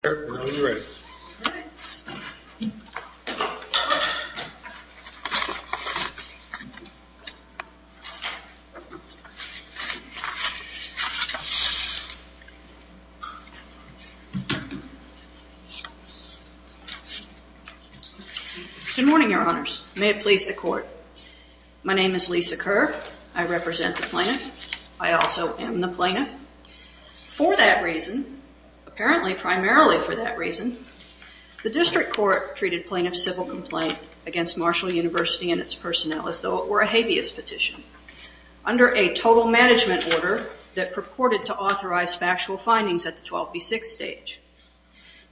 Good morning, your honors. May it please the court. My name is Lisa Kerr. I represent the plaintiff. I also am the plaintiff. For that reason, apparently primarily for that reason, the district court treated plaintiff's civil complaint against Marshall University and its personnel as though it were a habeas petition under a total management order that purported to authorize factual findings at the 12b6 stage.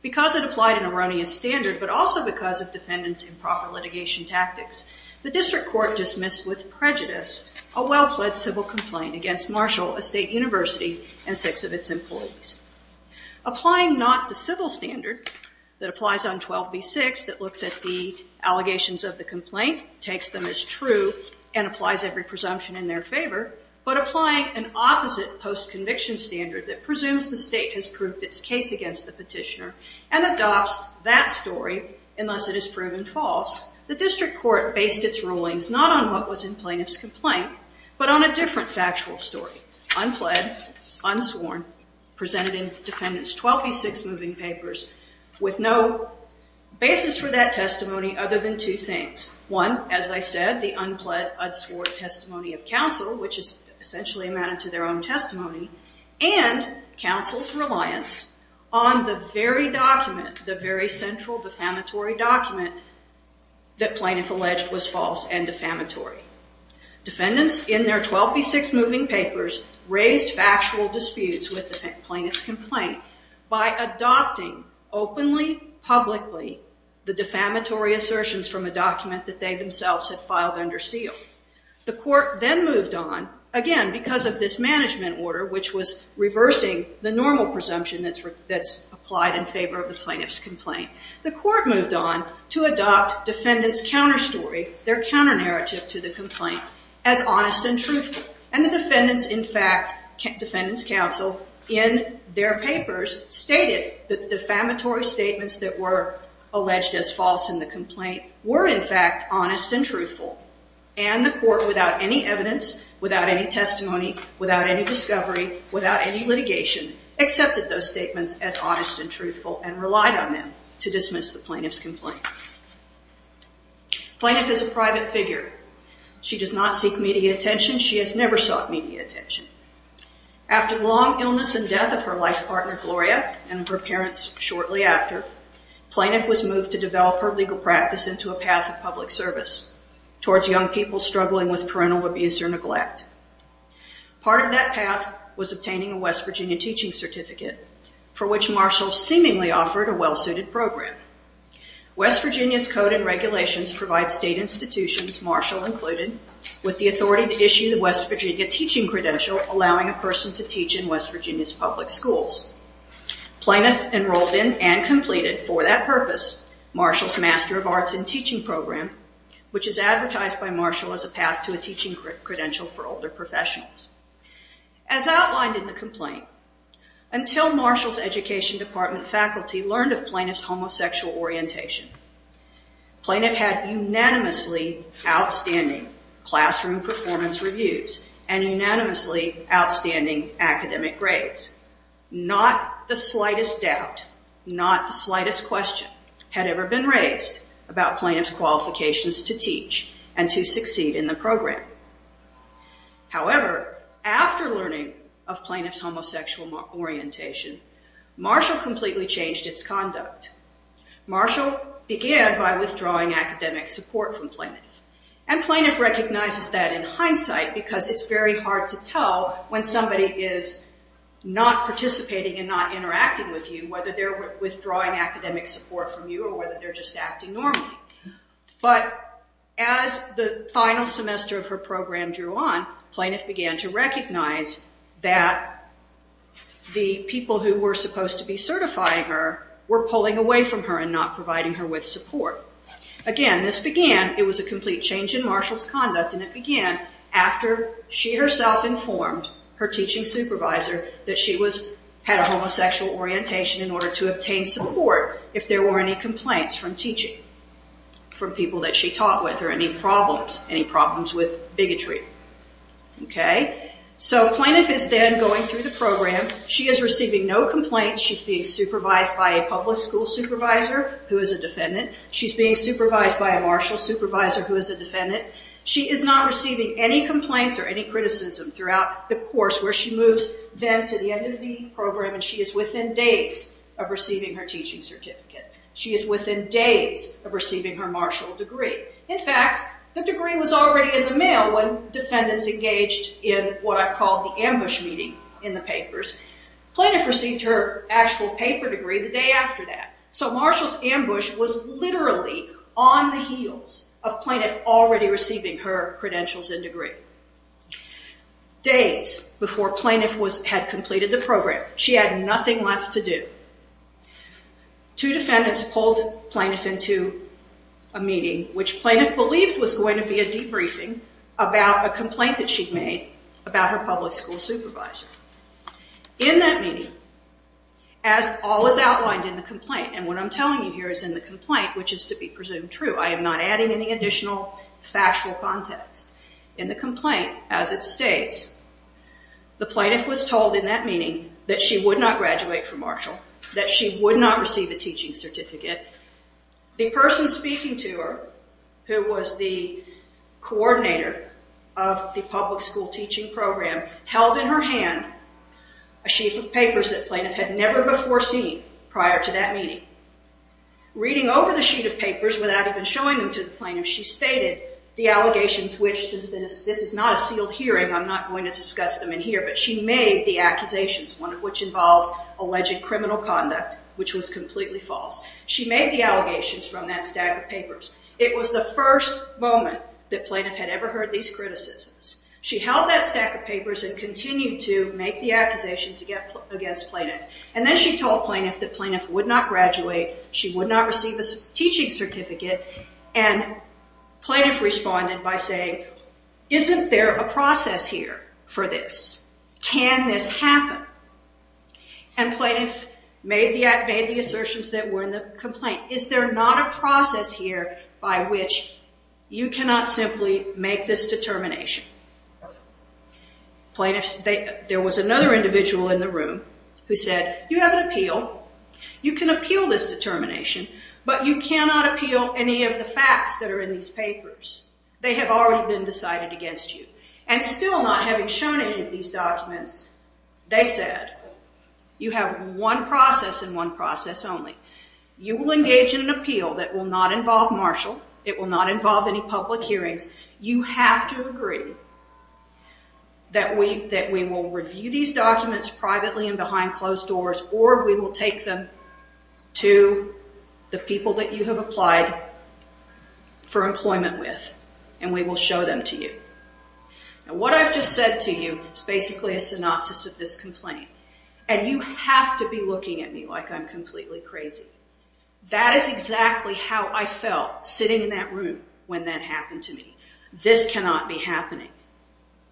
Because it applied an erroneous standard, but also because of defendants improper litigation tactics, the district court dismissed with prejudice a well-plaid civil complaint against Marshall State University and six of its employees. Applying not the civil standard that applies on 12b6 that looks at the allegations of the complaint, takes them as true, and applies every presumption in their favor, but applying an opposite post-conviction standard that presumes the state has proved its case against the petitioner and adopts that story unless it is proven false, the district court based its rulings not on what was in plaintiff's complaint, but on a different factual story. Unpled, unsworn, presented in defendants 12b6 moving papers with no basis for that testimony other than two things. One, as I said, the unpled, unsworn testimony of counsel, which is essentially amounted to their own testimony, and counsel's reliance on the very document, the very central defamatory document that plaintiff alleged was false and defamatory. Defendants in their 12b6 moving papers raised factual disputes with the plaintiff's complaint by adopting openly, publicly, the defamatory assertions from a document that they themselves had filed under seal. The court then moved on, again because of this management order which was reversing the normal presumption that's applied in favor of the plaintiff's complaint. The court moved on to adopt defendants' counter story, their counter narrative to the complaint, as honest and truthful. And the defendants, in fact, defendants' counsel in their papers stated that the defamatory statements that were alleged as false in the complaint were in fact honest and truthful. And the court without any evidence, without any testimony, without any discovery, without any litigation, accepted those statements as honest and truthful and relied on them to dismiss the plaintiff's complaint. Plaintiff is a private figure. She does not seek media attention. She has never sought media attention. After long illness and death of her life partner, Gloria, and her parents shortly after, plaintiff was moved to develop her legal practice into a path of public service towards young people struggling with parental abuse or neglect. Part of that path was obtaining a West Virginia teaching certificate for which Marshall seemingly offered a well-suited program. West Virginia's code and regulations provide state institutions, Marshall included, with the authority to issue the West Virginia teaching credential allowing a person to teach in West Virginia's public schools. Plaintiff enrolled in and completed, for that purpose, Marshall's Master of Arts in Teaching program, which is advertised by Marshall as a path to a teaching credential for older professionals. As outlined in the complaint, until Marshall's education department faculty learned of plaintiff's homosexual orientation, plaintiff had unanimously outstanding classroom performance reviews and unanimously outstanding academic grades. Not the slightest doubt, not the slightest question had ever been raised about plaintiff's qualifications to teach and to succeed in the program. However, after learning of plaintiff's homosexual orientation, Marshall completely changed its conduct. Marshall began by withdrawing academic support from plaintiff. Plaintiff recognizes that in hindsight because it's very hard to tell when somebody is not participating and not interacting with you whether they're a student or not. As the final semester of her program drew on, plaintiff began to recognize that the people who were supposed to be certifying her were pulling away from her and not providing her with support. Again, this began, it was a complete change in Marshall's conduct and it began after she herself informed her teaching supervisor that she had a homosexual orientation in order to obtain support if there were any complaints from teaching, from people that she taught with or any problems, any problems with bigotry. So plaintiff is then going through the program. She is receiving no complaints. She's being supervised by a public school supervisor who is a defendant. She's being supervised by a Marshall supervisor who is a defendant. She is not receiving any complaints or any criticism throughout the course where she moves then to the end of the program and she is within days of receiving her teaching certificate. She is within days of receiving her Marshall degree. In fact, the degree was already in the mail when defendants engaged in what I call the ambush meeting in the papers. Plaintiff received her actual paper degree the day after that. So Marshall's ambush was literally on the heels of plaintiff already receiving her credentials and degree. Days before plaintiff had completed the program, she had nothing left to do. Two defendants pulled plaintiff into a meeting which plaintiff believed was going to be a debriefing about a complaint that she'd made about her public school supervisor. In that meeting, as all was outlined in the complaint and what I'm telling you here is in the complaint which is to be presumed true. I am not adding any additional factual context. In the complaint as it states, the plaintiff was told in that she would not graduate from Marshall, that she would not receive a teaching certificate. The person speaking to her who was the coordinator of the public school teaching program held in her hand a sheet of papers that plaintiff had never before seen prior to that meeting. Reading over the sheet of papers without even showing them to the plaintiff, she stated the allegations which since this is not a sealed hearing, I'm not going to discuss them in here, but she made the accusations, one of which involved alleged criminal conduct which was completely false. She made the allegations from that stack of papers. It was the first moment that plaintiff had ever heard these criticisms. She held that stack of papers and continued to make the accusations against plaintiff. Then she told plaintiff that plaintiff would not graduate. She would not receive a teaching certificate. Plaintiff responded by saying, isn't there a process here for this? Can this happen? Plaintiff made the assertions that were in the complaint. Is there not a process here by which you cannot simply make this determination? There was another individual in the room who said, you have an appeal. You can appeal this determination, but you cannot appeal any of the facts that are in these papers. They have already been decided against you. Still not having shown any of these documents, they said, you have one process and one process only. You will engage in an appeal that will not involve Marshall. It will not involve any public hearings. You have to agree that we will review these documents privately and behind closed doors, or we will take them to the people that you have applied for employment with, and we will show them to you. What I've just said to you is basically a synopsis of this complaint. You have to be looking at me like I'm completely crazy. That is exactly how I felt sitting in that room when that happened to me. This cannot be happening.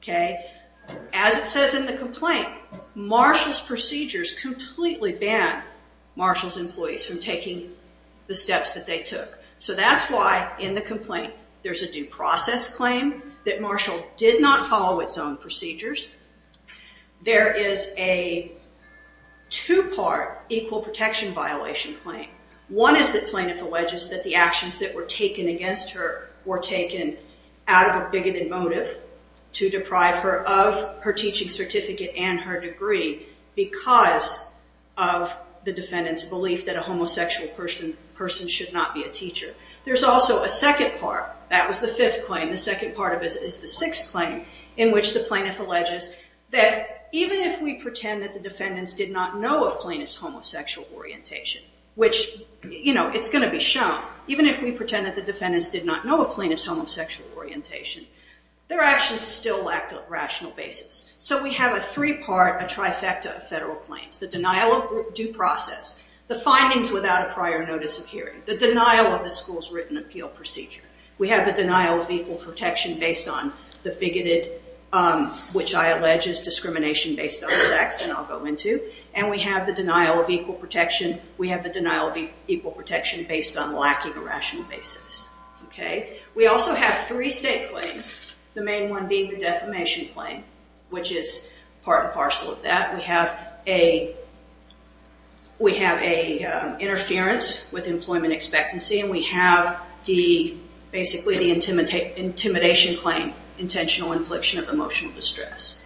As it says in the complaint, Marshall's procedures completely ban Marshall's employees from taking the steps that they took. That's why in the complaint there's a due process claim that Marshall did not follow its own procedures. There is a two-part equal protection violation claim. One is that plaintiff alleges that the actions that were taken against her were taken out of a bigoted motive to deprive her of her teaching certificate and her degree because of the defendant's belief that a homosexual person should not be a teacher. There's also a second part. That was the fifth claim. The second part is the sixth claim in which the plaintiff alleges that even if we pretend that the defendants did not know of plaintiff's homosexual orientation, which it's going to be shown, even if we pretend that the defendants did not know of plaintiff's homosexual orientation, their actions still lacked a rational basis. We have a three-part, a trifecta of federal claims. The denial of due process, the findings without a prior notice of hearing, the denial of the school's written appeal procedure. We have the denial of equal protection based on the bigoted, which I allege is discrimination based on sex, and I'll go into. We have the denial of equal protection based on lacking a rational basis. We also have three state claims, the main one being the defamation claim, which is part and parcel of that. We have a interference with employment expectancy, and we have basically the intimidation claim, intentional infliction of emotional distress.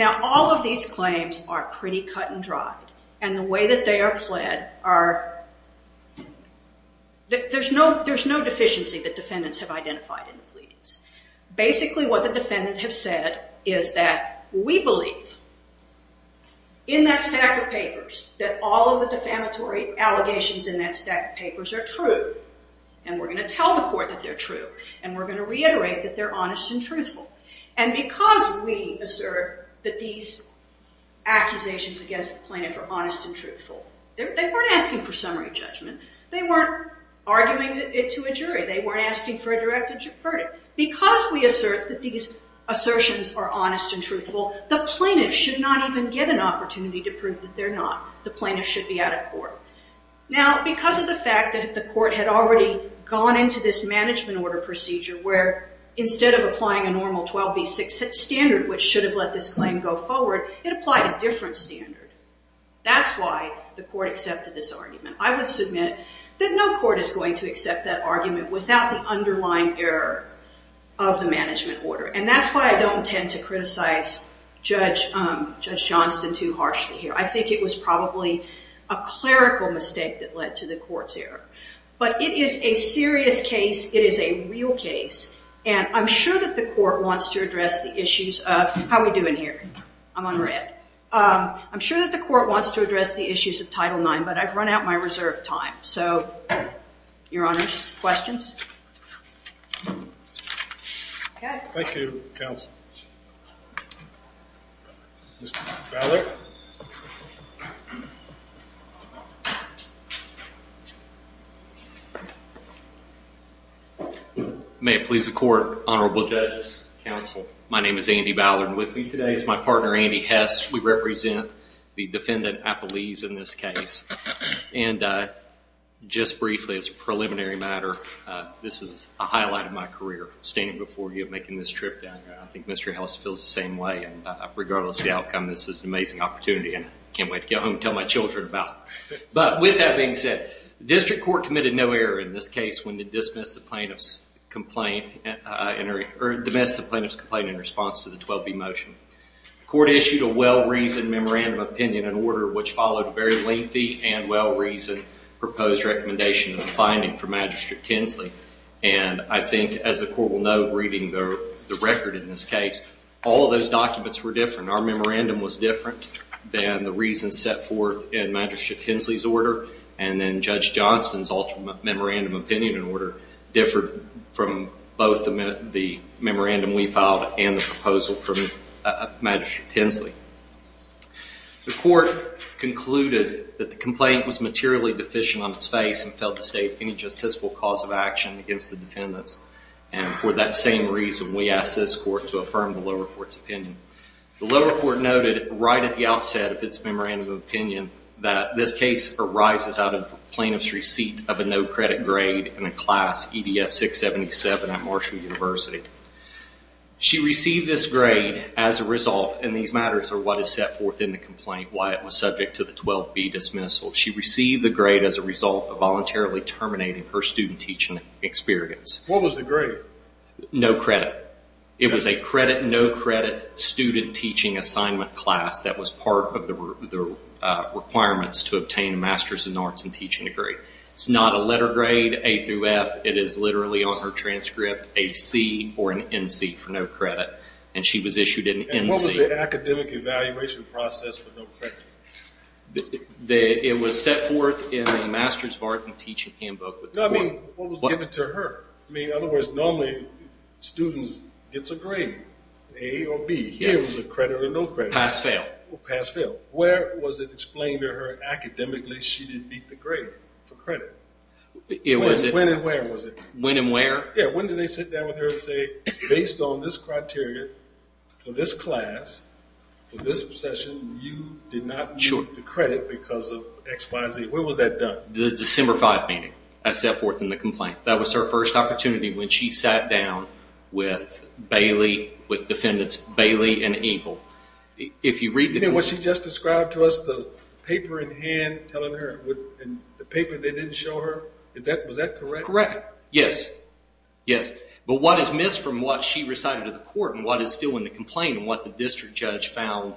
All of these claims are pretty cut and dry. The way that they are pled are... There's no deficiency that defendants have identified in the pleadings. Basically, what the defendants have said is that we believe in that stack of papers that all of the defamatory allegations in that stack of papers are true, and we're going to tell the court that they're true, and we're going to reiterate that they're honest and truthful. Because we assert that these accusations against the plaintiff are honest and truthful, they weren't asking for a direct verdict. Because we assert that these assertions are honest and truthful, the plaintiff should not even get an opportunity to prove that they're not. The plaintiff should be out of court. Because of the fact that the court had already gone into this management order procedure where instead of applying a normal 12B6 standard, which should have let this claim go forward, it applied a different standard. That's why the court accepted this argument. I would submit that no court is going to accept that argument without the underlying error of the management order. That's why I don't tend to criticize Judge Johnston too harshly here. I think it was probably a clerical mistake that led to the court's error. It is a serious case. It is a real case. I'm sure that the court wants to address the issues of... How are we doing here? I'm on red. I'm sure that the court wants to address the issues of Title IX, but I've run out of my reserve time. So, Your Honors, questions? Thank you, Counsel. Mr. Ballard? May it please the Court, Honorable Judges, Counsel, my name is Andy Ballard. With me today is my partner, Andy Hess. We represent the defendant, Apollese, in this case. Just briefly as a preliminary matter, this is a highlight of my career, standing before you and making this trip down here. I think Mr. Ellis feels the same way. Regardless of the outcome, this is an amazing opportunity and I can't wait to get home and tell my children about it. With that being said, the District Court committed no error in this case when plaintiff's complaint in response to the 12B motion. The court issued a well-reasoned memorandum opinion in order which followed a very lengthy and well-reasoned proposed recommendation of the finding for Magistrate Tinsley. I think, as the court will know reading the record in this case, all those documents were different. Our memorandum was different than the reasons set forth in Magistrate Tinsley's order and then Judge Johnson's alternate memorandum opinion in order differed from both the memorandum we filed and the proposal from Magistrate Tinsley. The court concluded that the complaint was materially deficient on its face and failed to state any justiciable cause of action against the defendants. For that same reason, we asked this court to affirm the lower court's opinion. The lower court noted right at the outset of its memorandum of opinion that this case arises out of plaintiff's receipt of a no grade in a class EDF 677 at Marshall University. She received this grade as a result, and these matters are what is set forth in the complaint, why it was subject to the 12B dismissal. She received the grade as a result of voluntarily terminating her student teaching experience. What was the grade? No credit. It was a credit, no credit student teaching assignment class that was part of the requirements to obtain a Master's in Arts and Teaching degree. It's not a letter grade, A through F, it is literally on her transcript, a C or an NC for no credit, and she was issued an NC. And what was the academic evaluation process for no credit? It was set forth in the Master's of Arts and Teaching handbook. No, I mean, what was given to her? I mean, in other words, normally students get a grade, A or B, here it was a credit or no credit. Pass-fail. Pass-fail. Where was it explained to her academically she didn't get the grade for credit? It was. When and where was it? When and where? Yeah, when did they sit down with her and say, based on this criteria for this class, for this session, you did not get the credit because of X, Y, Z. When was that done? The December 5th meeting I set forth in the complaint. That was her first opportunity when she sat down with Bailey, with defendants Bailey and Eagle. If you read the. You know what she just described to us, the paper in hand telling her, the paper they didn't show her, was that correct? Correct. Yes. Yes. But what is missed from what she recited to the court and what is still in the complaint and what the district judge found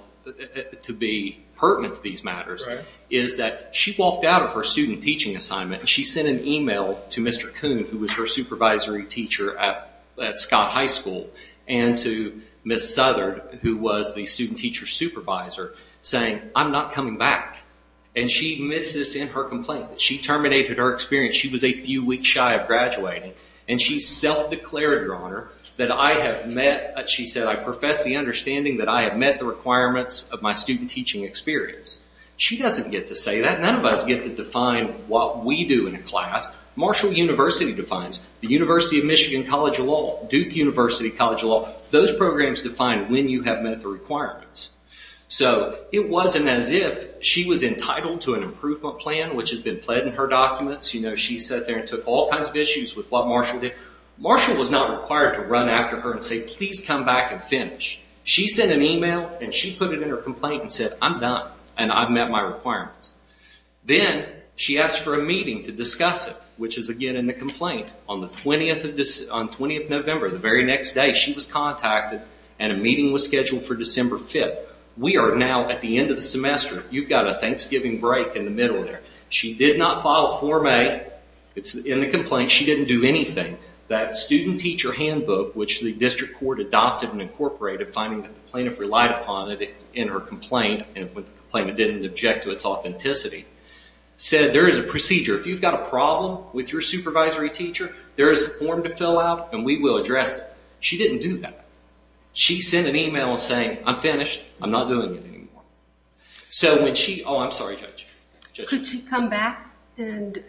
to be pertinent to these matters is that she walked out of her student teaching assignment and she sent an email to Mr. Kuhn, who was her supervisory teacher at Scott High School, and to Ms. Southard, who was the student teacher supervisor, saying, I'm not coming back. And she admits this in her complaint, that she terminated her experience. She was a few weeks shy of graduating and she self-declared, Your Honor, that I have met, she said, I profess the understanding that I have met the requirements of my student teaching experience. She doesn't get to say that. None of us get to define what we do in a class. Marshall University defines. The University of Michigan College of Law, those programs define when you have met the requirements. So it wasn't as if she was entitled to an improvement plan, which had been pledged in her documents. You know, she sat there and took all kinds of issues with what Marshall did. Marshall was not required to run after her and say, please come back and finish. She sent an email and she put it in her complaint and said, I'm done and I've met my requirements. Then she asked for a meeting to discuss it, which is again in the complaint. On the 20th of November, the very next day, she was contacted and a meeting was scheduled for December 5th. We are now at the end of the semester. You've got a Thanksgiving break in the middle there. She did not file Form A. It's in the complaint. She didn't do anything. That student teacher handbook, which the district court adopted and incorporated, finding that the plaintiff relied upon it in her complaint, and the complainant didn't object to its authenticity, said there is a procedure. If you've got a problem with your supervisory teacher, there is a form to fill out and we will address it. She didn't do that. She sent an email saying, I'm finished, I'm not doing it anymore. So when she, oh I'm sorry Judge. Could she come back and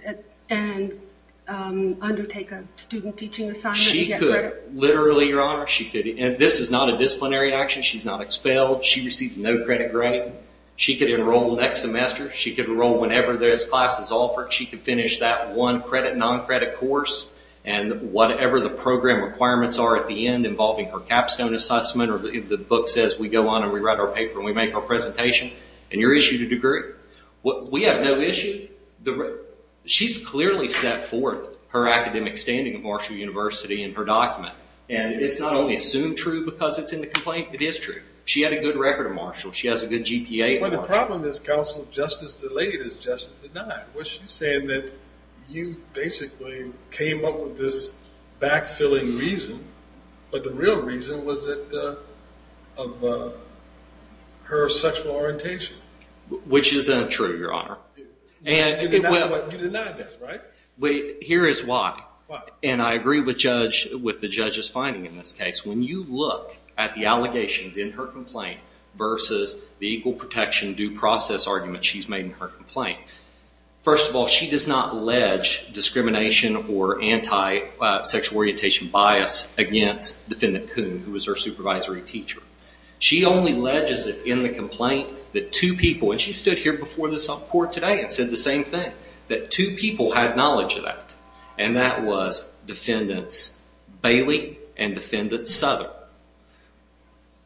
undertake a student teaching assignment and get credit? She could, literally your honor. This is not a disciplinary action. She's not expelled. She received no credit grade. She could enroll next semester. She could enroll whenever there's classes offered. She could finish that one credit, non-credit course, and whatever the program requirements are at the end involving her capstone assessment, or the book says we go on and we write our paper and we make our presentation, and you're issued a degree. We have no issue. She's clearly set forth her academic standing at Marshall University in her document. And it's not only assumed true because it's in the complaint, it is true. She had a good record at Marshall. She has a good GPA at Marshall. Well the problem is Counsel, justice delayed is justice denied. What she's saying is that you basically came up with this back-filling reason, but the real reason was that of her sexual orientation. Which isn't true, your honor. And you deny this, right? Here is why. Why? And I agree with the judge's finding in this case. When you look at the allegations in her complaint versus the equal protection due process argument she's made in her complaint, first of all she does not allege discrimination or anti-sexual orientation bias against Defendant Kuhn, who was her supervisory teacher. She only alleges that in the complaint that two people, and she stood here before this court today and said the same thing, that two people had knowledge of that. And that was Defendants Bailey and Defendant Southern.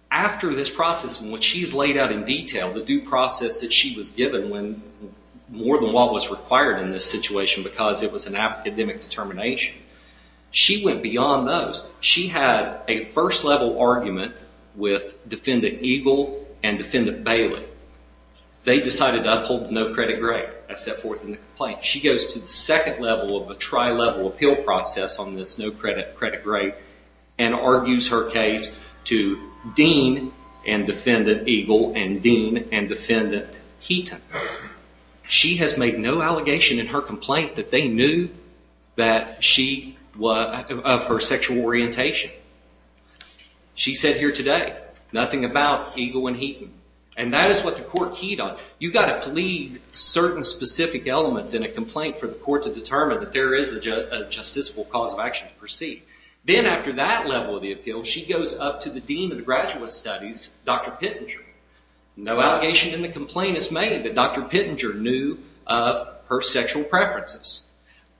After this process, when she's laid out in detail, the due process that she was given when more than what was required in this situation because it was an academic determination, she went beyond those. She had a first level argument with Defendant Eagle and Defendant Bailey. They decided to uphold the no credit grade. That's set forth in the complaint. She goes to the second level of a tri-level appeal process on this no credit grade and argues her case to Dean and Defendant Eagle and Dean and Defendant Heaton. She has made no allegation in her complaint that they knew that she, of her sexual orientation. She said here today, nothing about Eagle and Heaton. And that is what the court keyed on. You've got to plead certain specific elements in a complaint for the court to determine that there is a justiciable cause of action to proceed. Then after that level of the appeal, she goes up to the Dean of the Graduate Studies, Dr. Pittenger. No allegation in the complaint is made that Dr. Pittenger knew of her sexual preferences.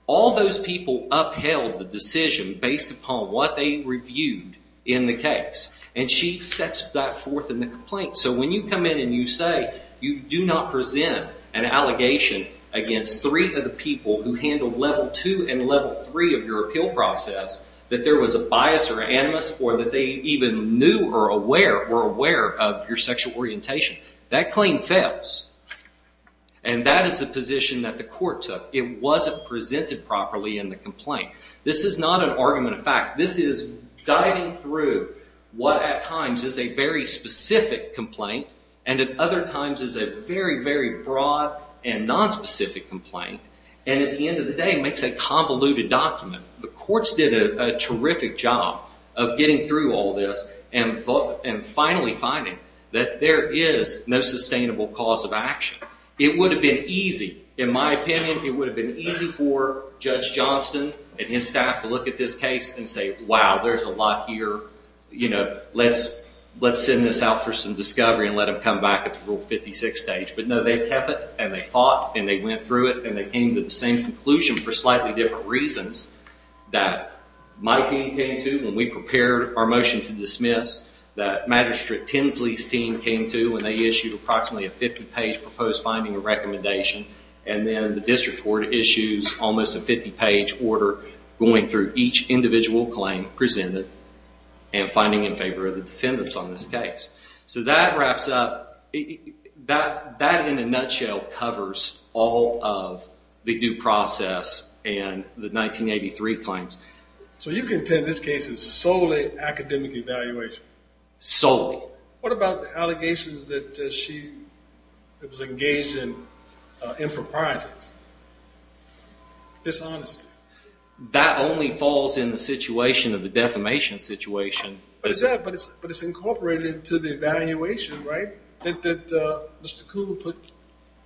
All those people upheld the decision based upon what they reviewed in the case. And she sets that forth in the complaint. So when you come in and you say, you do not present an allegation against three of the people who handled level two and level three of your appeal process that there was a bias or animus or that they even knew or were aware of your sexual orientation. That claim fails. And that is the position that the court took. It wasn't presented properly in the complaint. This is not an argument of fact. This is guiding through what at times is a very specific complaint and at other times is a very, very broad and nonspecific complaint and at the end of the day makes a convoluted document. The courts did a terrific job of getting through all this and finally finding that there is no sustainable cause of action. It would have been easy, in my opinion, it would have been easy for Judge Johnston and his staff to look at this case and say, wow, there's a lot here. Let's send this out for some discovery and let them come back at the Rule 56 stage. But no, they kept it and they fought and they went through it and they came to the same conclusion for slightly different reasons that my team came to when we prepared our motion to dismiss, that Magistrate Tinsley's team came to when they issued approximately a 50-page proposed finding of recommendation and then the district court issues almost a 50-page order going through each individual claim presented and finding in favor of the defendants on this case. So that wraps up, that in a nutshell covers all of the due process and the 1983 claims. So you contend this case is solely academic evaluation? Solely. What about the allegations that she was engaged in for projects? Dishonesty? That only falls in the situation of the defamation situation. But it's incorporated into the evaluation, right, that Mr. Kuhn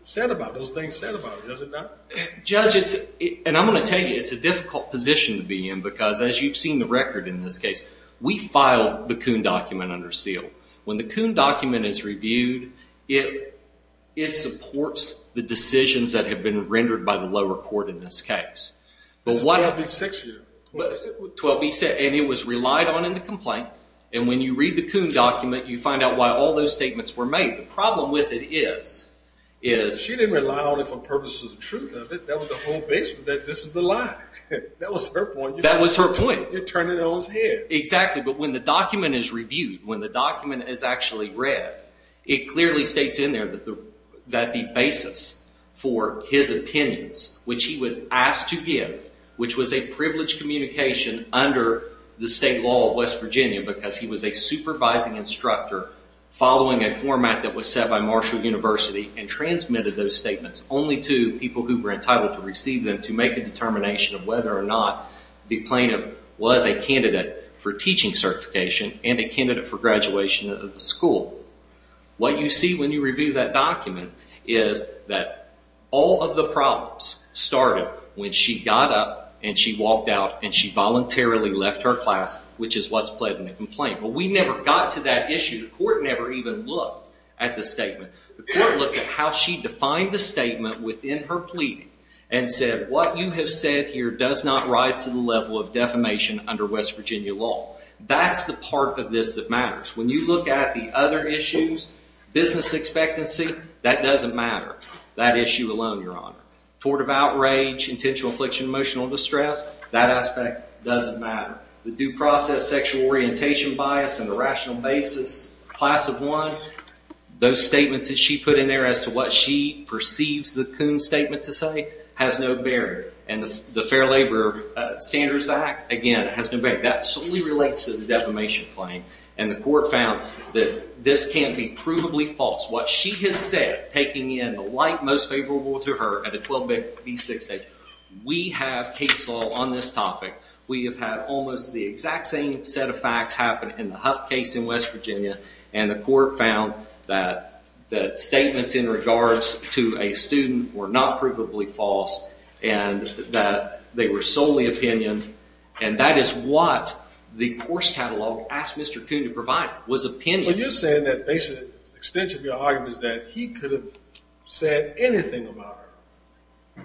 said about, those things said about it, does it not? Judge, and I'm going to tell you, it's a difficult position to be in because as you've seen the record in this case, we filed the Kuhn document under seal. When the Kuhn document is reviewed, it supports the decisions that have been rendered by the lower court in this case. This is 12B6 here. 12B6, and it was relied on in the complaint and when you read the Kuhn document, you find out why all those statements were made. The problem with it is, is... She didn't rely on it for purposes of truth. That was the whole base of it, that this is the lie. That was her point. That was her point. You're turning it on its head. Exactly, but when the document is reviewed, when the document is actually read, it clearly states in there that the basis for his opinions, which he was asked to give, which was a privileged communication under the state law of West Virginia because he was a supervising instructor following a format that was set by Marshall University and transmitted those statements only to people who were entitled to receive them to make a determination of whether or not the plaintiff was a candidate for teaching certification and a candidate for graduation of the school. What you see when you review that document is that all of the problems started when she got up and she walked out and she voluntarily left her class, which is what's pled in the complaint. We never got to that issue. The court never even looked at the statement. The court looked at how she defined the statement within her pleading and said, what you have said here does not rise to the level of defamation under West Virginia law. That's the part of this that matters. When you look at the other issues, business expectancy, that doesn't matter, that issue alone, your honor. Tort of outrage, intentional affliction, emotional distress, that aspect doesn't matter. The due process sexual orientation bias and the rational basis, class of one, those statements that she put in there as to what she perceives the Coon's statement to say has no bearing and the Fair Labor Standards Act, again, has nothing to do with the defamation claim. And the court found that this can't be provably false. What she has said, taking in the light most favorable to her at a 12B6 stage, we have case law on this topic. We have had almost the exact same set of facts happen in the Huff case in West Virginia and the court found that the statements in regards to a student were not provably false and that they were solely opinion and that is what the course catalog asked Mr. Coon to provide was opinion. So you're saying that basically, extension of your argument is that he could have said anything about her,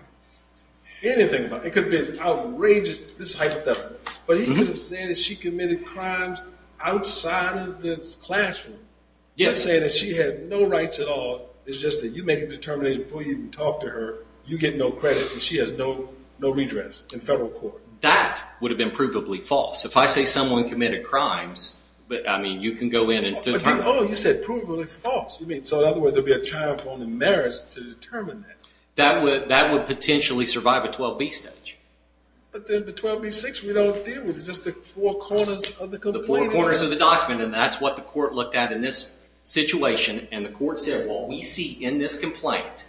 anything about her. It could be as outrageous, this hypothetical, but he could have said that she committed crimes outside of this classroom, but saying that she had no rights at all is just that you make a determination before you even talk to her, you get no credit and she has no redress in federal court. That would have been provably false. If I say someone committed crimes, but I mean, you can go in and determine. Oh, you said provably false. You mean, so in other words, there'd be a trial for only merits to determine that. That would potentially survive a 12B stage. But then the 12B6 we don't deal with. It's just the four corners of the complaint. The four corners of the document and that's what the court looked at in this situation and the court said, well, we see in this complaint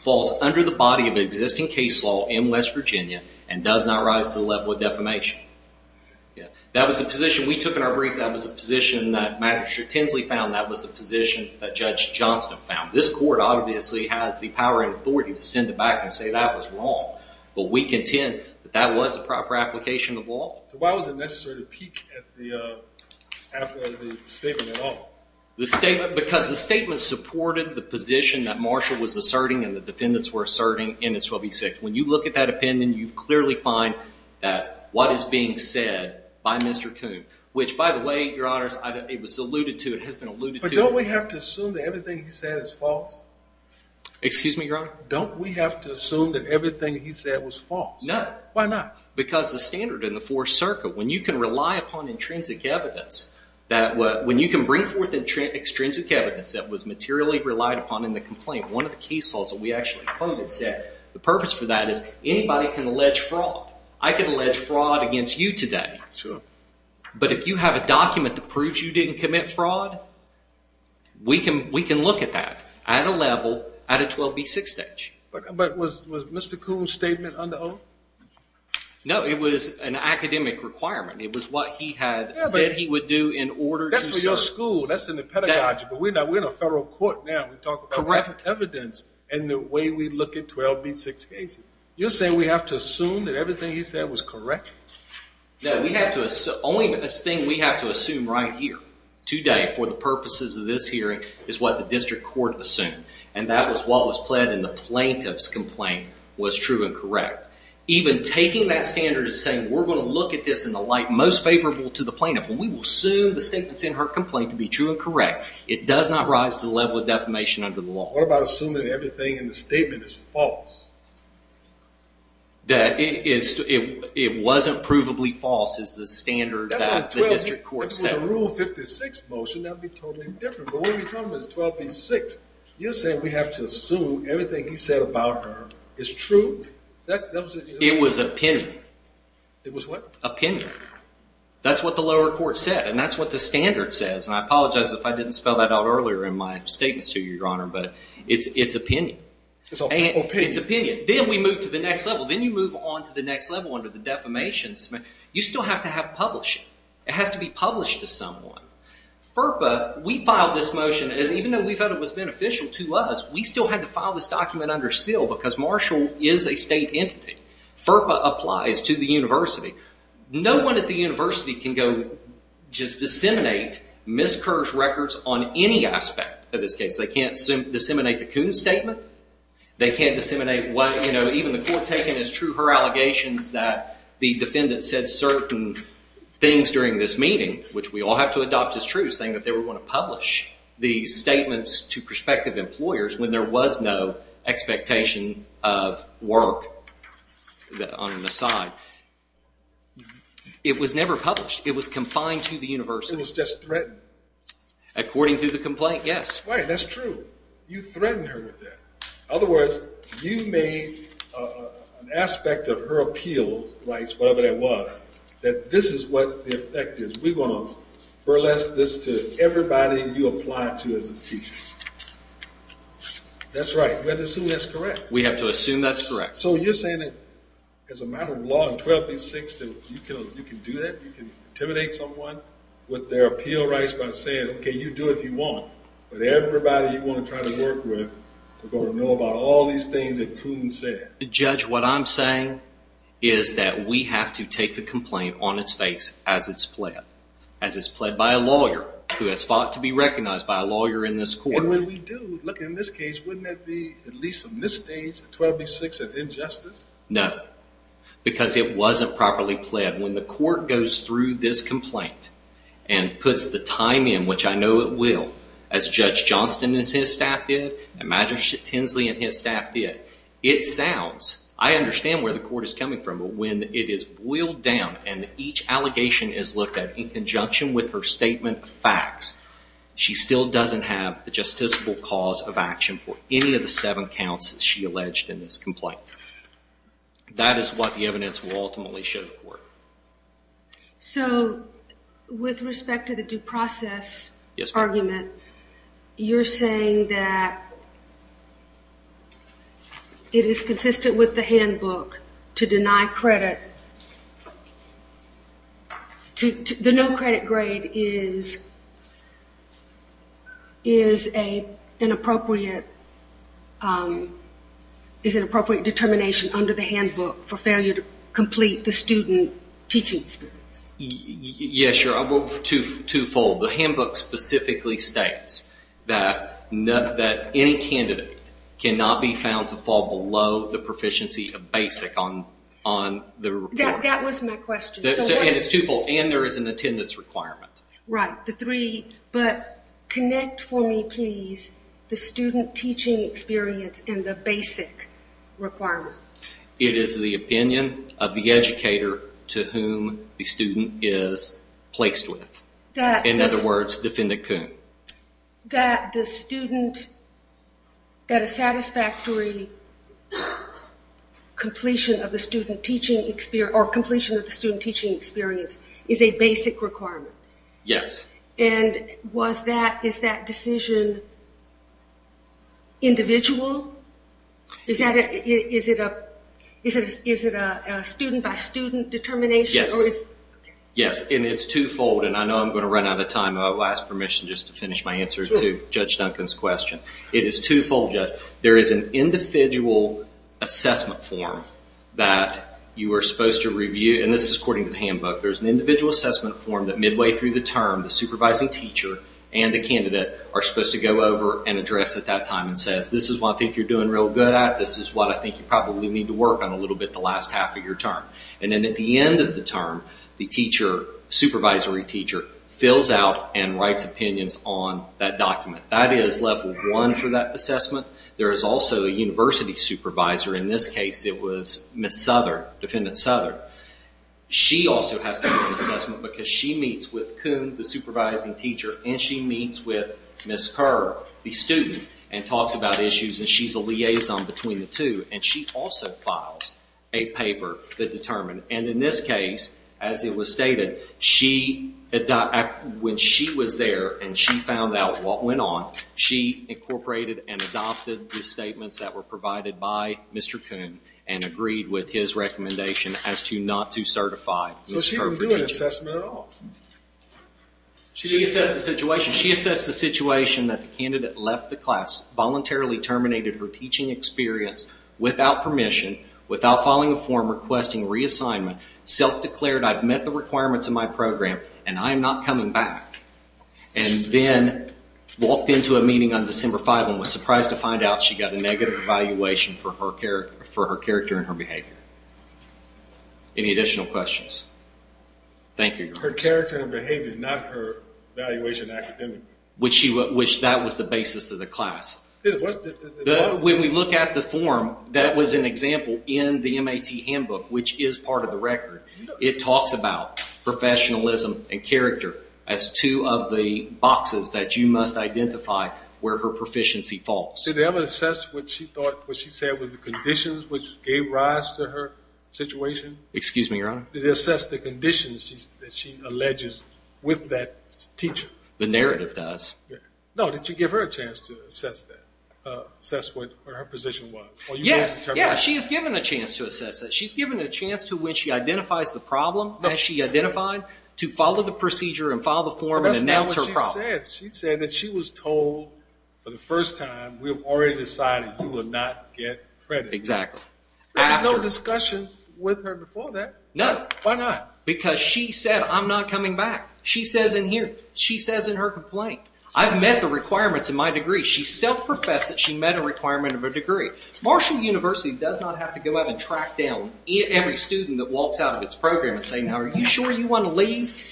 falls under the body of existing case law in West Virginia and does not rise to the level of defamation. That was the position we took in our brief. That was a position that Magistrate Tinsley found that was the position that Judge Johnston found. This court obviously has the power and authority to send it back and say that was wrong, but we contend that that was the proper application of law. Why was it necessary to peek at the statement at all? The statement, because the statement supported the position that Marshall was asserting and the defendants were asserting in his 12B6. When you look at that opinion, you clearly find that what is being said by Mr. Coon, which by the way, your honors, it was alluded to, it has been alluded to. But don't we have to assume that everything he said is false? Excuse me, your honor? Don't we have to assume that everything he said was false? No. Why not? Because the standard in the fourth circuit, when you can rely upon intrinsic evidence that when you can bring forth extrinsic evidence that was materially relied upon in the complaint, one of the case laws that we actually quoted said the purpose for that is anybody can allege fraud. I can allege fraud against you today, but if you have a document that proves you didn't commit fraud, we can look at that at a level, at a 12B6 stage. But was Mr. Coon's statement under oath? No, it was an academic requirement. It was what he had said he would do in order to serve. That's for your school. That's in the pedagogy. But we're in a federal court now. We talk about evidence and the way we look at 12B6 cases. You're saying we have to assume that everything he said was correct? No, the only thing we have to assume right here today for the purposes of this hearing is what the district court assumed. And that was what was pled in the plaintiff's complaint was true and correct. Even taking that standard and saying, we're going to look at this in the light most favorable to the plaintiff. When we will assume the statements in her complaint to be true and correct, it does not rise to the level of defamation under the law. What about assuming everything in the statement is false? It wasn't provably false is the standard that the district court set. If it was a Rule 56 motion, that would be totally different, but when you're talking about 12B6, you're saying we have to assume everything he said about her is true? It was opinion. It was what? Opinion. That's what the lower court said and that's what the standard says. I apologize if I didn't spell that out earlier in my statements to you, Your Honor, but it's opinion. It's opinion. It's opinion. Then we move to the next level. Then you move on to the next level under the defamation. You still have to have publishing. It has to be published to someone. FERPA, we filed this motion, even though we thought it was beneficial to us, we still had to file this document under seal because Marshall is a state entity. FERPA applies to the university. No one at the university can go just disseminate miscursed records on any aspect of this case. They can't disseminate the Coons statement. They can't disseminate even the court taking as true her allegations that the defendant said certain things during this meeting, which we all have to adopt as true, saying that they were going to publish the statements to prospective employers when there was no expectation of work on the side. It was never published. It was confined to the university. It was just threatened. According to the complaint, yes. Right. That's true. You threatened her with that. In other words, you made an aspect of her appeal rights, whatever that was, that this is what the effect is. We're going to burlesque this to everybody you apply to as a teacher. That's right. We have to assume that's correct. We have to assume that's correct. So you're saying that as a matter of law in 1286, that you can do that, you can intimidate someone with their appeal rights by saying, okay, you do it if you want, but everybody you want to try to work with are going to know about all these things that Coons said. Judge, what I'm saying is that we have to take the complaint on its face as it's pled, as it's pled by a lawyer who has fought to be recognized by a lawyer in this court. And when we do, look, in this case, wouldn't that be at least from this stage, 1286, an injustice? No. Because it wasn't properly pled. When the court goes through this complaint and puts the time in, which I know it will, as Judge Johnston and his staff did, and Magistrate Tinsley and his staff did, it sounds, I understand where the court is coming from, but when it is boiled down and each allegation is looked at in conjunction with her statement of facts, she still doesn't have a justiciable cause of action for any of the seven counts she alleged in this complaint. That is what the evidence will ultimately show the court. So, with respect to the due process argument, you're saying that it is consistent with the handbook to deny credit, the no credit grade is an appropriate determination under the teaching experience? Yeah, sure. I'll go two-fold. The handbook specifically states that any candidate cannot be found to fall below the proficiency of basic on the report. That was my question. And it's two-fold. And there is an attendance requirement. Right. The three. But connect for me, please, the student teaching experience and the basic requirement. It is the opinion of the educator to whom the student is placed with. In other words, defendant Kuhn. That the student, that a satisfactory completion of the student teaching experience is a basic requirement? Yes. And is that decision individual? Is it a student by student determination? Yes. Yes. And it's two-fold. And I know I'm going to run out of time. I'll ask permission just to finish my answer to Judge Duncan's question. It is two-fold, Judge. There is an individual assessment form that you are supposed to review, and this is according to the handbook. There's an individual assessment form that midway through the term, the supervising teacher and the candidate are supposed to go over and address at that time and says, this is what I think you're doing real good at. This is what I think you probably need to work on a little bit the last half of your term. And then at the end of the term, the teacher, supervisory teacher, fills out and writes opinions on that document. That is level one for that assessment. There is also a university supervisor. In this case, it was Miss Souther, defendant Souther. She also has to do an assessment because she meets with Kuhn, the supervising teacher, and she meets with Miss Kerr, the student, and talks about issues, and she's a liaison between the two. And she also files a paper that determined, and in this case, as it was stated, when she was there and she found out what went on, she incorporated and adopted the statements that were provided by Mr. Kuhn and agreed with his recommendation as to not to certify Miss Kerr for teaching. So she didn't do an assessment at all? She assessed the situation. She assessed the situation that the candidate left the class, voluntarily terminated her teaching experience without permission, without following a form requesting reassignment, self-declared I've met the requirements of my program and I'm not coming back, and then walked into a meeting on December 5 and was surprised to find out she got a negative evaluation for her character and her behavior. Any additional questions? Thank you, Your Honor. Her character and behavior, not her evaluation academically? Which that was the basis of the class. When we look at the form, that was an example in the MAT handbook, which is part of the record. It talks about professionalism and character as two of the boxes that you must identify where her proficiency falls. Did they ever assess what she said was the conditions which gave rise to her situation? Excuse me, Your Honor? Did they assess the conditions that she alleges with that teacher? The narrative does. No, did you give her a chance to assess that, assess what her position was? Yes. She is given a chance to assess that. She's given a chance to, when she identifies the problem as she identified, to follow the procedure and follow the form and announce her problem. She said that she was told for the first time, we've already decided you will not get credit. Exactly. There was no discussion with her before that? No. Why not? Because she said, I'm not coming back. She says in here, she says in her complaint, I've met the requirements in my degree. She self-professed that she met a requirement of a degree. Marshall University does not have to go out and track down every student that walks out of its program and say, now, are you sure you want to leave?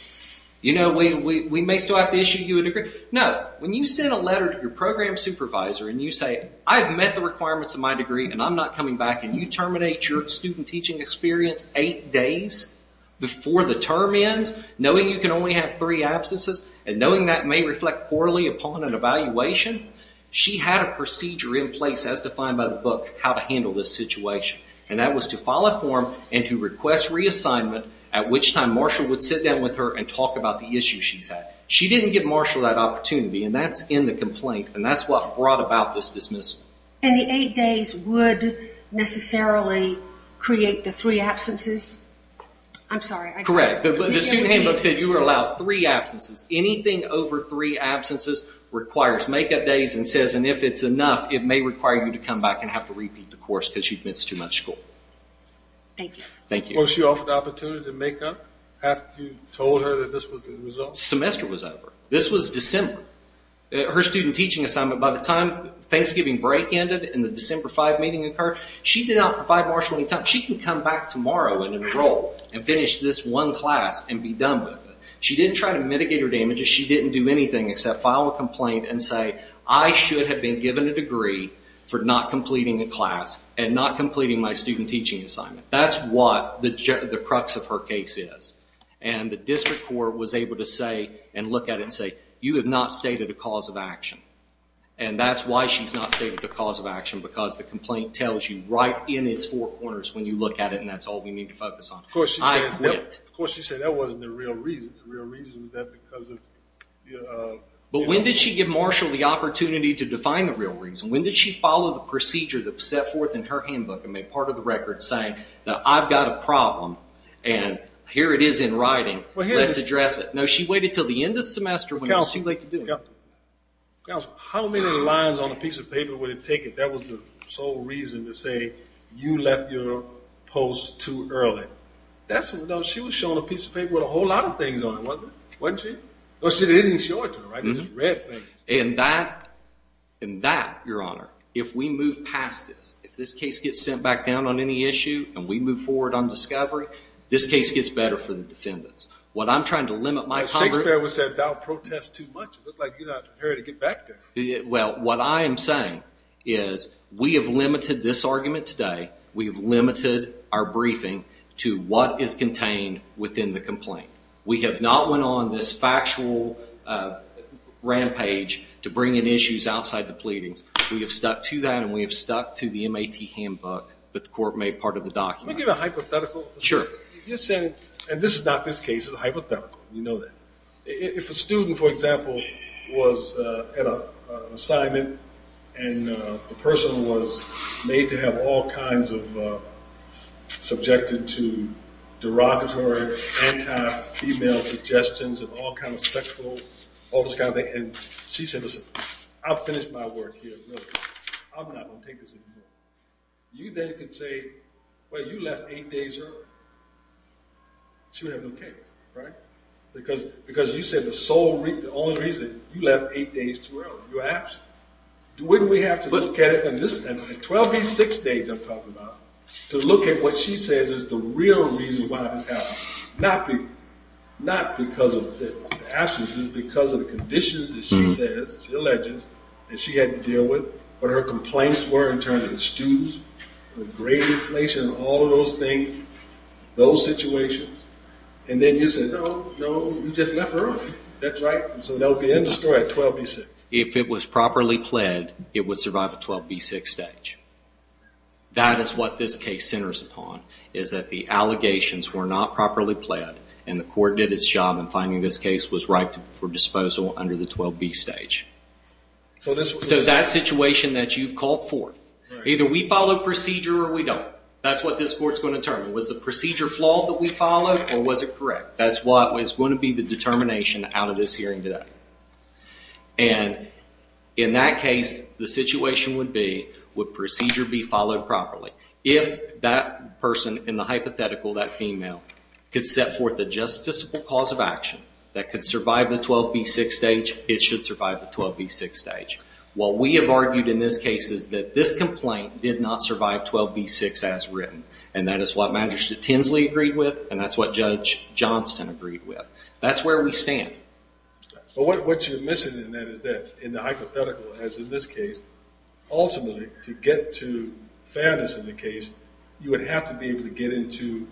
You know, we may still have to issue you a degree. No. When you send a letter to your program supervisor and you say, I've met the requirements of my degree and I'm not coming back, and you terminate your student teaching experience eight days before the term ends, knowing you can only have three absences, and knowing that may reflect poorly upon an evaluation, she had a procedure in place as defined by the book how to handle this situation. And that was to file a form and to request reassignment, at which time Marshall would sit down with her and talk about the issue she's had. She didn't give Marshall that opportunity, and that's in the complaint. And that's what brought about this dismissal. And the eight days would necessarily create the three absences? I'm sorry. Correct. The student handbook said you were allowed three absences. Anything over three absences requires make-up days and says, and if it's enough, it may require you to come back and have to repeat the course because you've missed too much school. Thank you. Thank you. Was she offered the opportunity to make up after you told her that this was the result? Semester was over. This was December. Her student teaching assignment, by the time Thanksgiving break ended and the December 5 meeting occurred, she did not provide Marshall any time. She can come back tomorrow and enroll and finish this one class and be done with it. She didn't try to mitigate her damages. She didn't do anything except file a complaint and say, I should have been given a degree for not completing a class and not completing my student teaching assignment. That's what the crux of her case is. The district court was able to say and look at it and say, you have not stated a cause of action. That's why she's not stated a cause of action because the complaint tells you right in its four corners when you look at it and that's all we need to focus on. Of course, she said that wasn't the real reason. The real reason was that because of... When did she give Marshall the opportunity to define the real reason? When did she follow the procedure that was set forth in her handbook and make part of the record saying that I've got a problem and here it is in writing, let's address it. No, she waited until the end of the semester when it was too late to do it. How many lines on a piece of paper would it take if that was the sole reason to say you left your post too early? She was showing a piece of paper with a whole lot of things on it, wasn't she? She didn't show it to her, it was just red things. And that, your honor, if we move past this, if this case gets sent back down on any issue and we move forward on discovery, this case gets better for the defendants. What I'm trying to limit my... Shakespeare once said, thou protest too much. It looked like you're not prepared to get back there. What I am saying is we have limited this argument today, we have limited our briefing to what is contained within the complaint. We have not went on this factual rampage to bring in issues outside the pleadings. We have stuck to that and we have stuck to the MAT handbook that the court made part of the document. Can I give a hypothetical? Sure. You're saying, and this is not this case, it's a hypothetical, you know that. If a student, for example, was at an assignment and the person was made to have all kinds of, subjected to derogatory, anti-female suggestions of all kinds of sexual, all those kinds of things, and she said, listen, I'll finish my work here, I'm not going to take this anymore. You then could say, well, you left eight days early. She would have no case, right? Because you said the sole reason, the only reason you left eight days too early, you were absent. Wouldn't we have to look at it, at 12B6 stage I'm talking about, to look at what she says is the real reason why this happened. Not because of the absence, it's because of the conditions that she says, she alleges, that she had to deal with, what her complaints were in terms of the students, the grade inflation, all of those things, those situations. And then you said, no, no, you just left early. That's right. So that would be end of story at 12B6. If it was properly pled, it would survive a 12B6 stage. That is what this case centers upon, is that the allegations were not properly pled, and the court did its job in finding this case was right for disposal under the 12B stage. So that situation that you've called forth, either we follow procedure or we don't. That's what this court's going to determine. Was the procedure flawed that we followed, or was it correct? That's what is going to be the determination out of this hearing today. And in that case, the situation would be, would procedure be followed properly? If that person in the hypothetical, that female, could set forth a justiciable cause of action that could survive the 12B6 stage, it should survive the 12B6 stage. What we have argued in this case is that this complaint did not survive 12B6 as written. And that is what Magistrate Tinsley agreed with, and that's what Judge Johnston agreed with. That's where we stand. But what you're missing in that is that, in the hypothetical, as in this case, ultimately to get to fairness in the case, you would have to be able to get into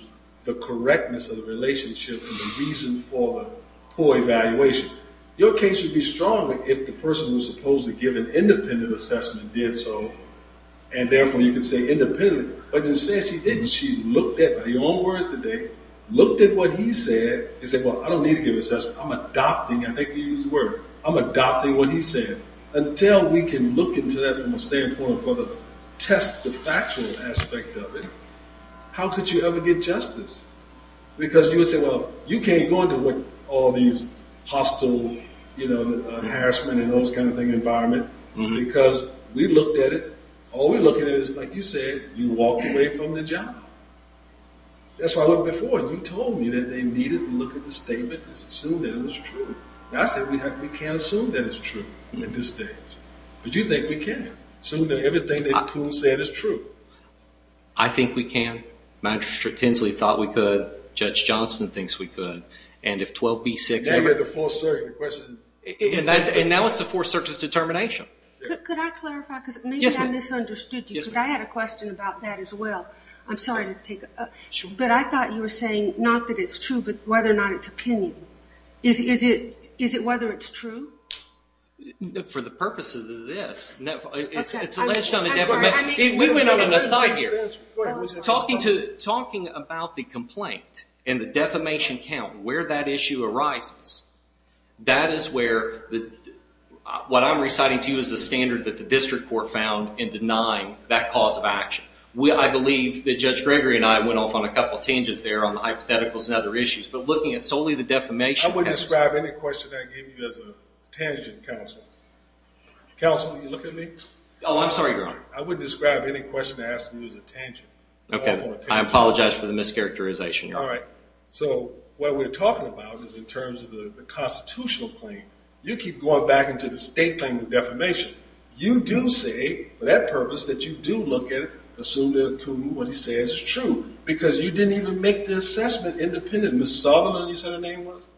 the correctness of the relationship and the reason for the poor evaluation. Your case would be stronger if the person was supposed to give an independent assessment and therefore you could say independently. But you said she didn't. She looked at your own words today, looked at what he said, and said, well, I don't need to give an assessment. I'm adopting, I think you used the word, I'm adopting what he said. Until we can look into that from a standpoint of whether to test the factual aspect of it, how could you ever get justice? Because you would say, well, you can't go into all these hostile harassment and those kind of thing environment because we looked at it. All we're looking at is, like you said, you walked away from the job. That's why I looked before. You told me that they needed to look at the statement and assume that it was true. I said we can't assume that it's true at this stage. But you think we can assume that everything that Kuhn said is true. I think we can. Magistrate Tinsley thought we could. Judge Johnston thinks we could. And if 12b-6... And that was the Fourth Circuit's question. And now it's the Fourth Circuit's determination. Yes, ma'am. Because maybe I misunderstood you. Yes, ma'am. Because I had a question about that as well. I'm sorry to take... Sure. But I thought you were saying, not that it's true, but whether or not it's opinion. Is it whether it's true? For the purpose of this, it's alleged on a defamation... We went on an aside here. Talking about the complaint and the defamation count, where that issue arises, that is where what I'm reciting to you is the standard that the district court found in denying that cause of action. I believe that Judge Gregory and I went off on a couple of tangents there on the hypotheticals and other issues. But looking at solely the defamation... I wouldn't describe any question I gave you as a tangent, counsel. Counsel, will you look at me? Oh, I'm sorry, Your Honor. I wouldn't describe any question I asked you as a tangent. Okay. I apologize for the mischaracterization, Your Honor. All right. So what we're talking about is in terms of the constitutional claim. You keep going back into the state claim of defamation. You do say, for that purpose, that you do look at it, assume that what he says is true, because you didn't even make the assessment independent. Ms. Southern, you said her name was?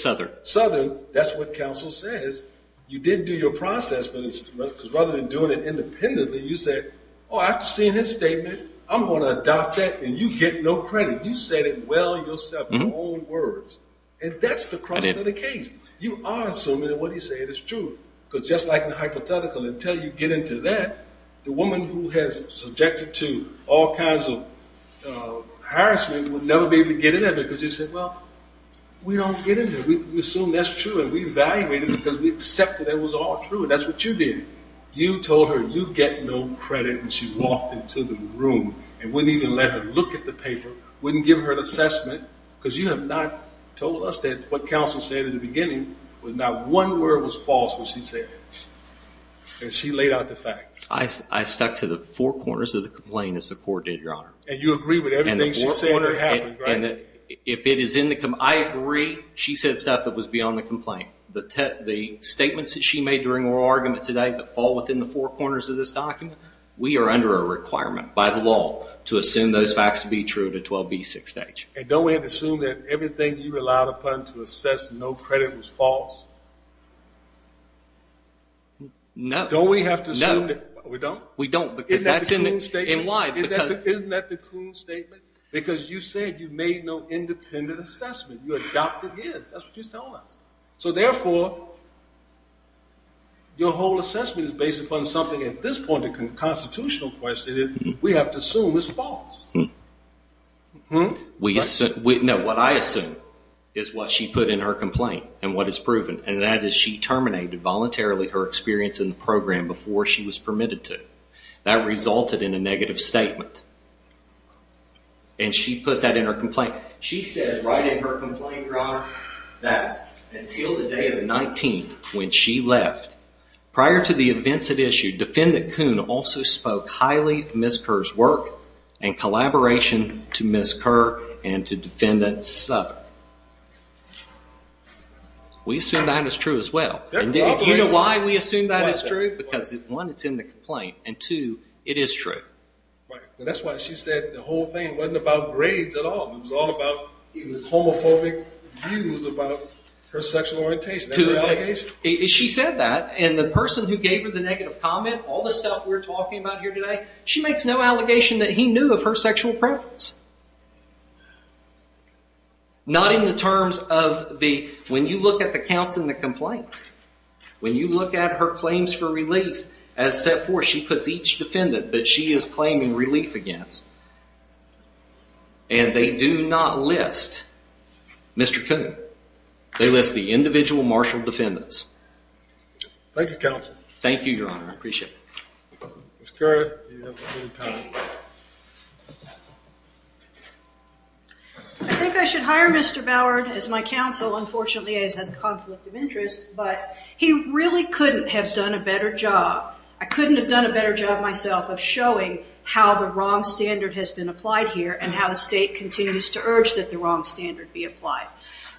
Southern. Southern. That's what counsel says. You didn't do your process, because rather than doing it independently, you said, oh, after seeing his statement, I'm going to adopt that, and you get no credit. You said it well yourself in your own words, and that's the crux of the case. You are assuming that what he said is true, because just like in the hypothetical, until you get into that, the woman who has subjected to all kinds of harassment will never be able to get in there, because you said, well, we don't get into it. We assume that's true, and we evaluate it, because we accept that it was all true, and that's what you did. You told her you get no credit, and she walked into the room and wouldn't even let her look at the paper, wouldn't give her an assessment, because you have not told us that what counsel said in the beginning was not one word was false when she said it, and she laid out the facts. I stuck to the four corners of the complaint as the court did, Your Honor. And you agree with everything she said that happened, right? I agree she said stuff that was beyond the complaint. The statements that she made during her argument today that fall within the four corners of this document, we are under a requirement by the law to assume those facts to be true at a 12B6 stage. And don't we have to assume that everything you relied upon to assess no credit was false? No. Don't we have to assume that? No. We don't? We don't. Isn't that the Kuhn statement? And why? Isn't that the Kuhn statement? Because you said you made no independent assessment. You adopted his. That's what you're telling us. So therefore, your whole assessment is based upon something. At this point, the constitutional question is we have to assume it's false. No. What I assume is what she put in her complaint and what is proven. And that is she terminated voluntarily her experience in the program before she was permitted to. That resulted in a negative statement. And she put that in her complaint. She says right in her complaint, Your Honor, that until the day of the 19th when she left, prior to the events at issue, Defendant Kuhn also spoke highly of Ms. Kerr's work and collaboration to Ms. Kerr and to Defendant Sutton. We assume that is true as well. You know why we assume that is true? Because one, it's in the complaint. And two, it is true. That's why she said the whole thing wasn't about grades at all. It was all about homophobic views about her sexual orientation. That's an allegation. She said that. And the person who gave her the negative comment, all the stuff we're talking about here today, she makes no allegation that he knew of her sexual preference. Not in the terms of the, when you look at the counts in the complaint, when you look at her claims for relief, as set forth, she puts each defendant that she is claiming relief against. And they do not list Mr. Kuhn. They list the individual martial defendants. Thank you, Counsel. Thank you, Your Honor. I appreciate it. I think I should hire Mr. Boward as my counsel. Unfortunately, he has a conflict of interest, but he really couldn't have done a better job. I couldn't have done a better job myself of showing how the wrong standard has been applied here and how the state continues to urge that the wrong standard be applied.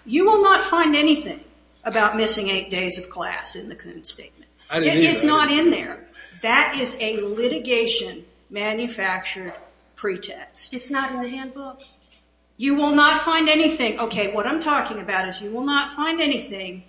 You will not find anything about missing eight days of class in the Kuhn statement. It is not in there. That is a litigation manufactured pretext. It's not in the handbook? You will not find anything. Okay, what I'm talking about is you will not find anything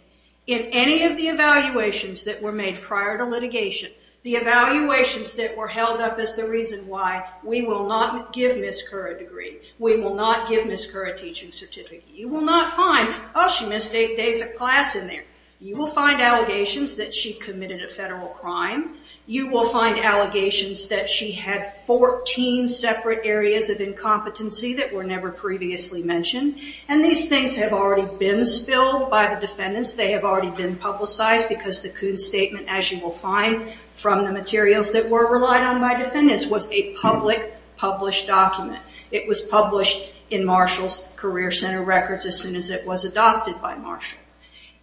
in any of the evaluations that were made prior to litigation. The evaluations that were held up is the reason why we will not give Ms. Kerr a degree. We will not give Ms. Kerr a teaching certificate. You will not find, oh, she missed eight days of class in there. You will find allegations that she committed a federal crime. You will find allegations that she had 14 separate areas of incompetency that were never previously mentioned. And these things have already been spilled by the defendants. They have already been publicized because the Kuhn statement, as you will find from the materials that were relied on by defendants, was a public published document. It was published in Marshall's Career Center records as soon as it was adopted by Marshall.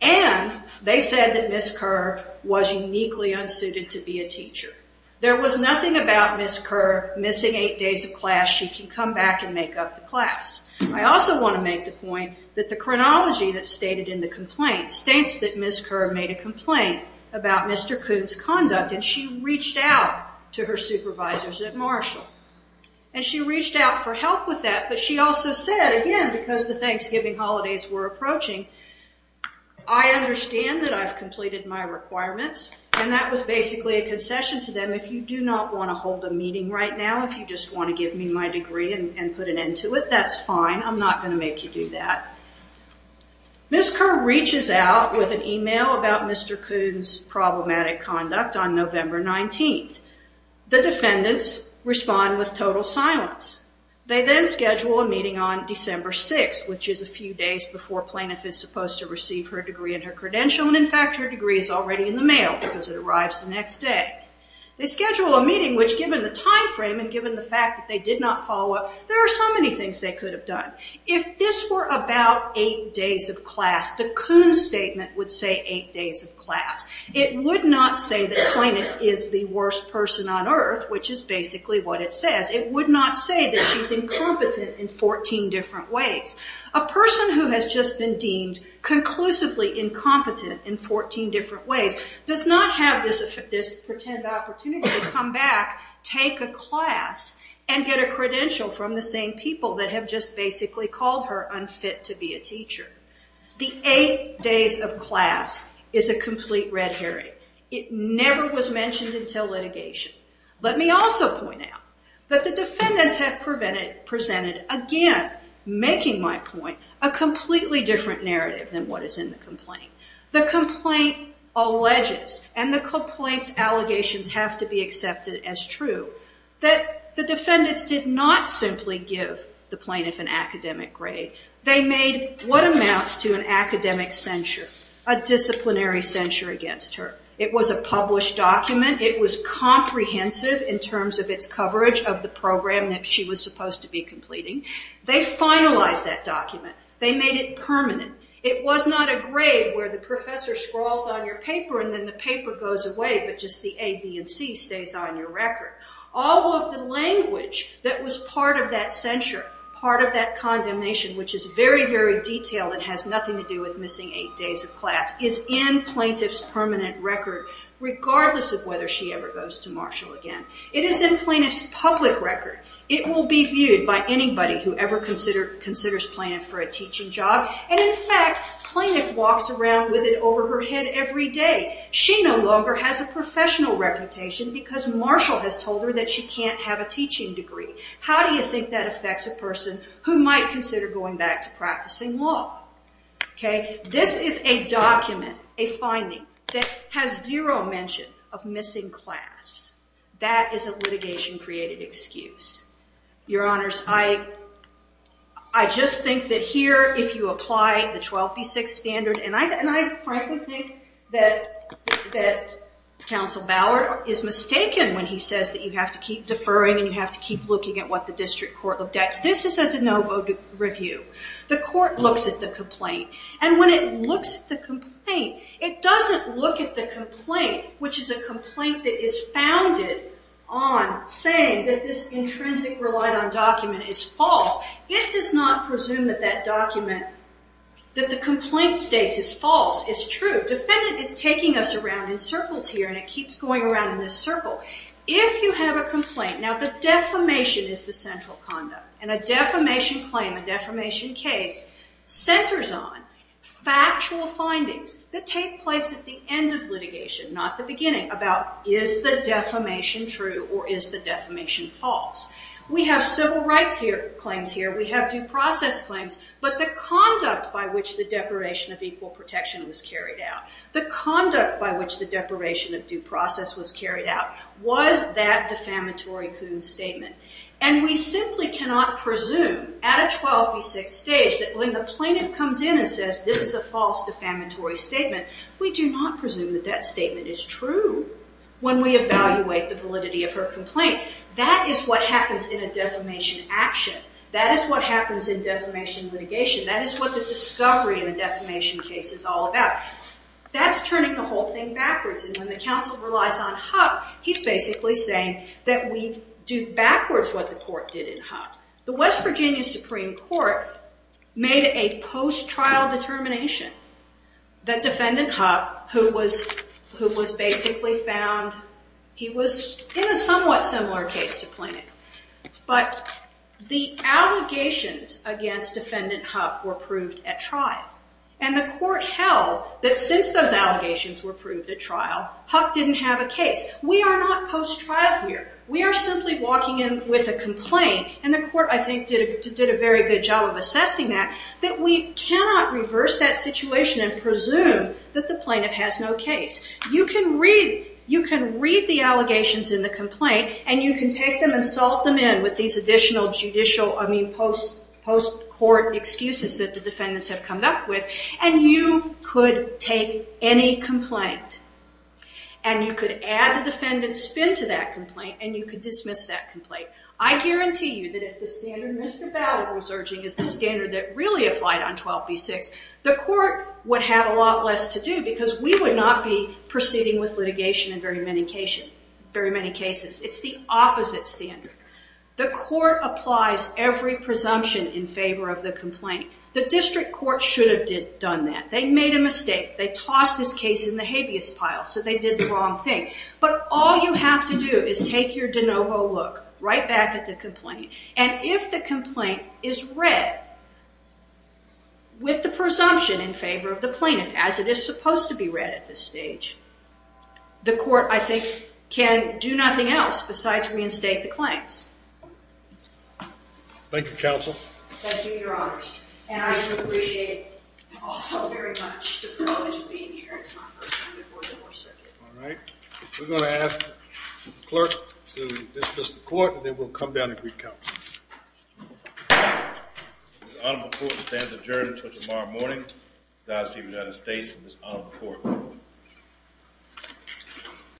And they said that Ms. Kerr was uniquely unsuited to be a teacher. There was nothing about Ms. Kerr missing eight days of class she can come back and make up the class. I also want to make the point that the chronology that's stated in the complaint states that Ms. Kerr made a complaint about Mr. Kuhn's conduct and she reached out to her supervisors at Marshall. And she reached out for help with that but she also said, again, because the Thanksgiving holidays were approaching, I understand that I've completed my requirements and that was basically a concession to them if you do not want to hold a meeting right now, if you just want to give me my degree and put an end to it, that's fine. I'm not going to make you do that. Ms. Kerr reaches out with an email about Mr. Kuhn's problematic conduct on November 19th. The defendants respond with total silence. They then schedule a meeting on December 6th, which is a few days before Plaintiff is supposed to receive her degree and her credential and in fact her degree is already in the mail because it arrives the next day. They schedule a meeting which given the time frame and given the fact that they did not follow up, there are so many things they could have done. If this were about eight days of class, the Kuhn statement would say eight days of class. It would not say that Plaintiff is the worst person on earth, which is basically what it says. It would not say that she's incompetent in 14 different ways. A person who has just been deemed conclusively incompetent in 14 different ways does not have this pretend opportunity to come back, take a class and get a credential from the same people that have just basically called her unfit to be a teacher. The eight days of class is a complete red herring. Let me also point out that the defendants have presented, again, making my point, a completely false statement that Plaintiff is the worst person on earth. This is a completely different narrative than what is in the complaint. The complaint alleges and the complaint's allegations have to be accepted as true that the defendants did not simply give the Plaintiff an academic grade. They made what amounts to an academic censure, a disciplinary censure against her. It was a published document. It was comprehensive in terms of its coverage of the program that she was supposed to be completing. They finalized that document. They made it permanent. It was not a grade where the professor scrawls on your paper and then the paper goes away but just the A, B and C stays on your record. All of the language that was part of that censure, part of that condemnation which is very, very detailed and has nothing to do with missing eight days of class is in Plaintiff's permanent record regardless of whether she ever goes to Marshall again. It is in Plaintiff's public record. It will be viewed by anybody who ever considers Plaintiff for a teaching job and in fact Plaintiff walks around with it over her head every day. She no longer has a professional reputation because Marshall has told her that she can't have a teaching degree. How do you think that affects a person who might consider going back to practicing law? This is a document, a finding that has zero mention of missing class. That is a litigation created excuse. Your Honors, I just think that here if you apply the 12B6 standard and I frankly think that that Counsel Ballard is mistaken when he says that you have to keep deferring and you have to keep looking at what the District Court of Debt this is a de novo review. The court looks at the complaint and when it looks at the complaint it doesn't look at the complaint which is a complaint that is founded on saying that this intrinsic relied on document is false. It does not presume that that document that the complaint states is false is true. The defendant is taking us around in circles here and it keeps going around in this circle. If you have a complaint now the defamation is the central conduct and a defamation claim, a defamation case centers on factual findings that take place at the end of litigation not the beginning about is the defamation true or is the defamation false. We have civil rights here claims here we have due process claims but the conduct by which the deprivation of equal protection was carried out the conduct by which the deprivation of due process was carried out was that defamatory Coon statement and we simply cannot presume at a 12 v 6 stage that when the plaintiff comes in and says this is a false defamatory statement we do not presume that that statement is true when we evaluate the validity of her complaint that is what happens in a defamation action that is what happens in defamation litigation that is what the discovery in a defamation case is all about that's turning the whole thing backwards and when the counsel relies on Huck he's basically saying that we do backwards what the court did in Huck the West Virginia Supreme Court made a post trial determination that defendant Huck who was who was basically found he was in a somewhat similar case to plaintiff but the allegations against defendant Huck were proved at trial and the court held that since those allegations were proved at trial Huck didn't have a case we are not post trial here we are simply walking in with a complaint and the court I think did a very good job of assessing that that we cannot reverse that situation and presume that the plaintiff has no case you can read you can read the allegations in the complaint and you can take them and salt them in with these additional judicial I mean post post court excuses that the defendants have come up with and you could take any complaint and you could add the defendant spin to that complaint and you could dismiss that complaint I guarantee you that if the standard Mr. Ballard was urging is the standard that really applied on 12b6 the court would have a lot less to do because we would not be proceeding with litigation in very many cases it's the opposite standard the court applies every presumption in favor of the complaint the district court should have done that they made a mistake they tossed this case in the habeas pile so they did the wrong thing but all you have to do is take your de novo look right back at the complaint and if the complaint is read with the presumption in favor of the plaintiff as it is supposed to be read at this stage the court I think can do nothing else besides reinstate the claims thank you counsel thank you your honor and I do appreciate also very much the privilege of being here it's my first time before the fourth circuit alright we're going to ask the clerk to dismiss the court and then we'll come down and greet counsel this honorable court stands adjourned until tomorrow morning Godspeed United States and this honorable court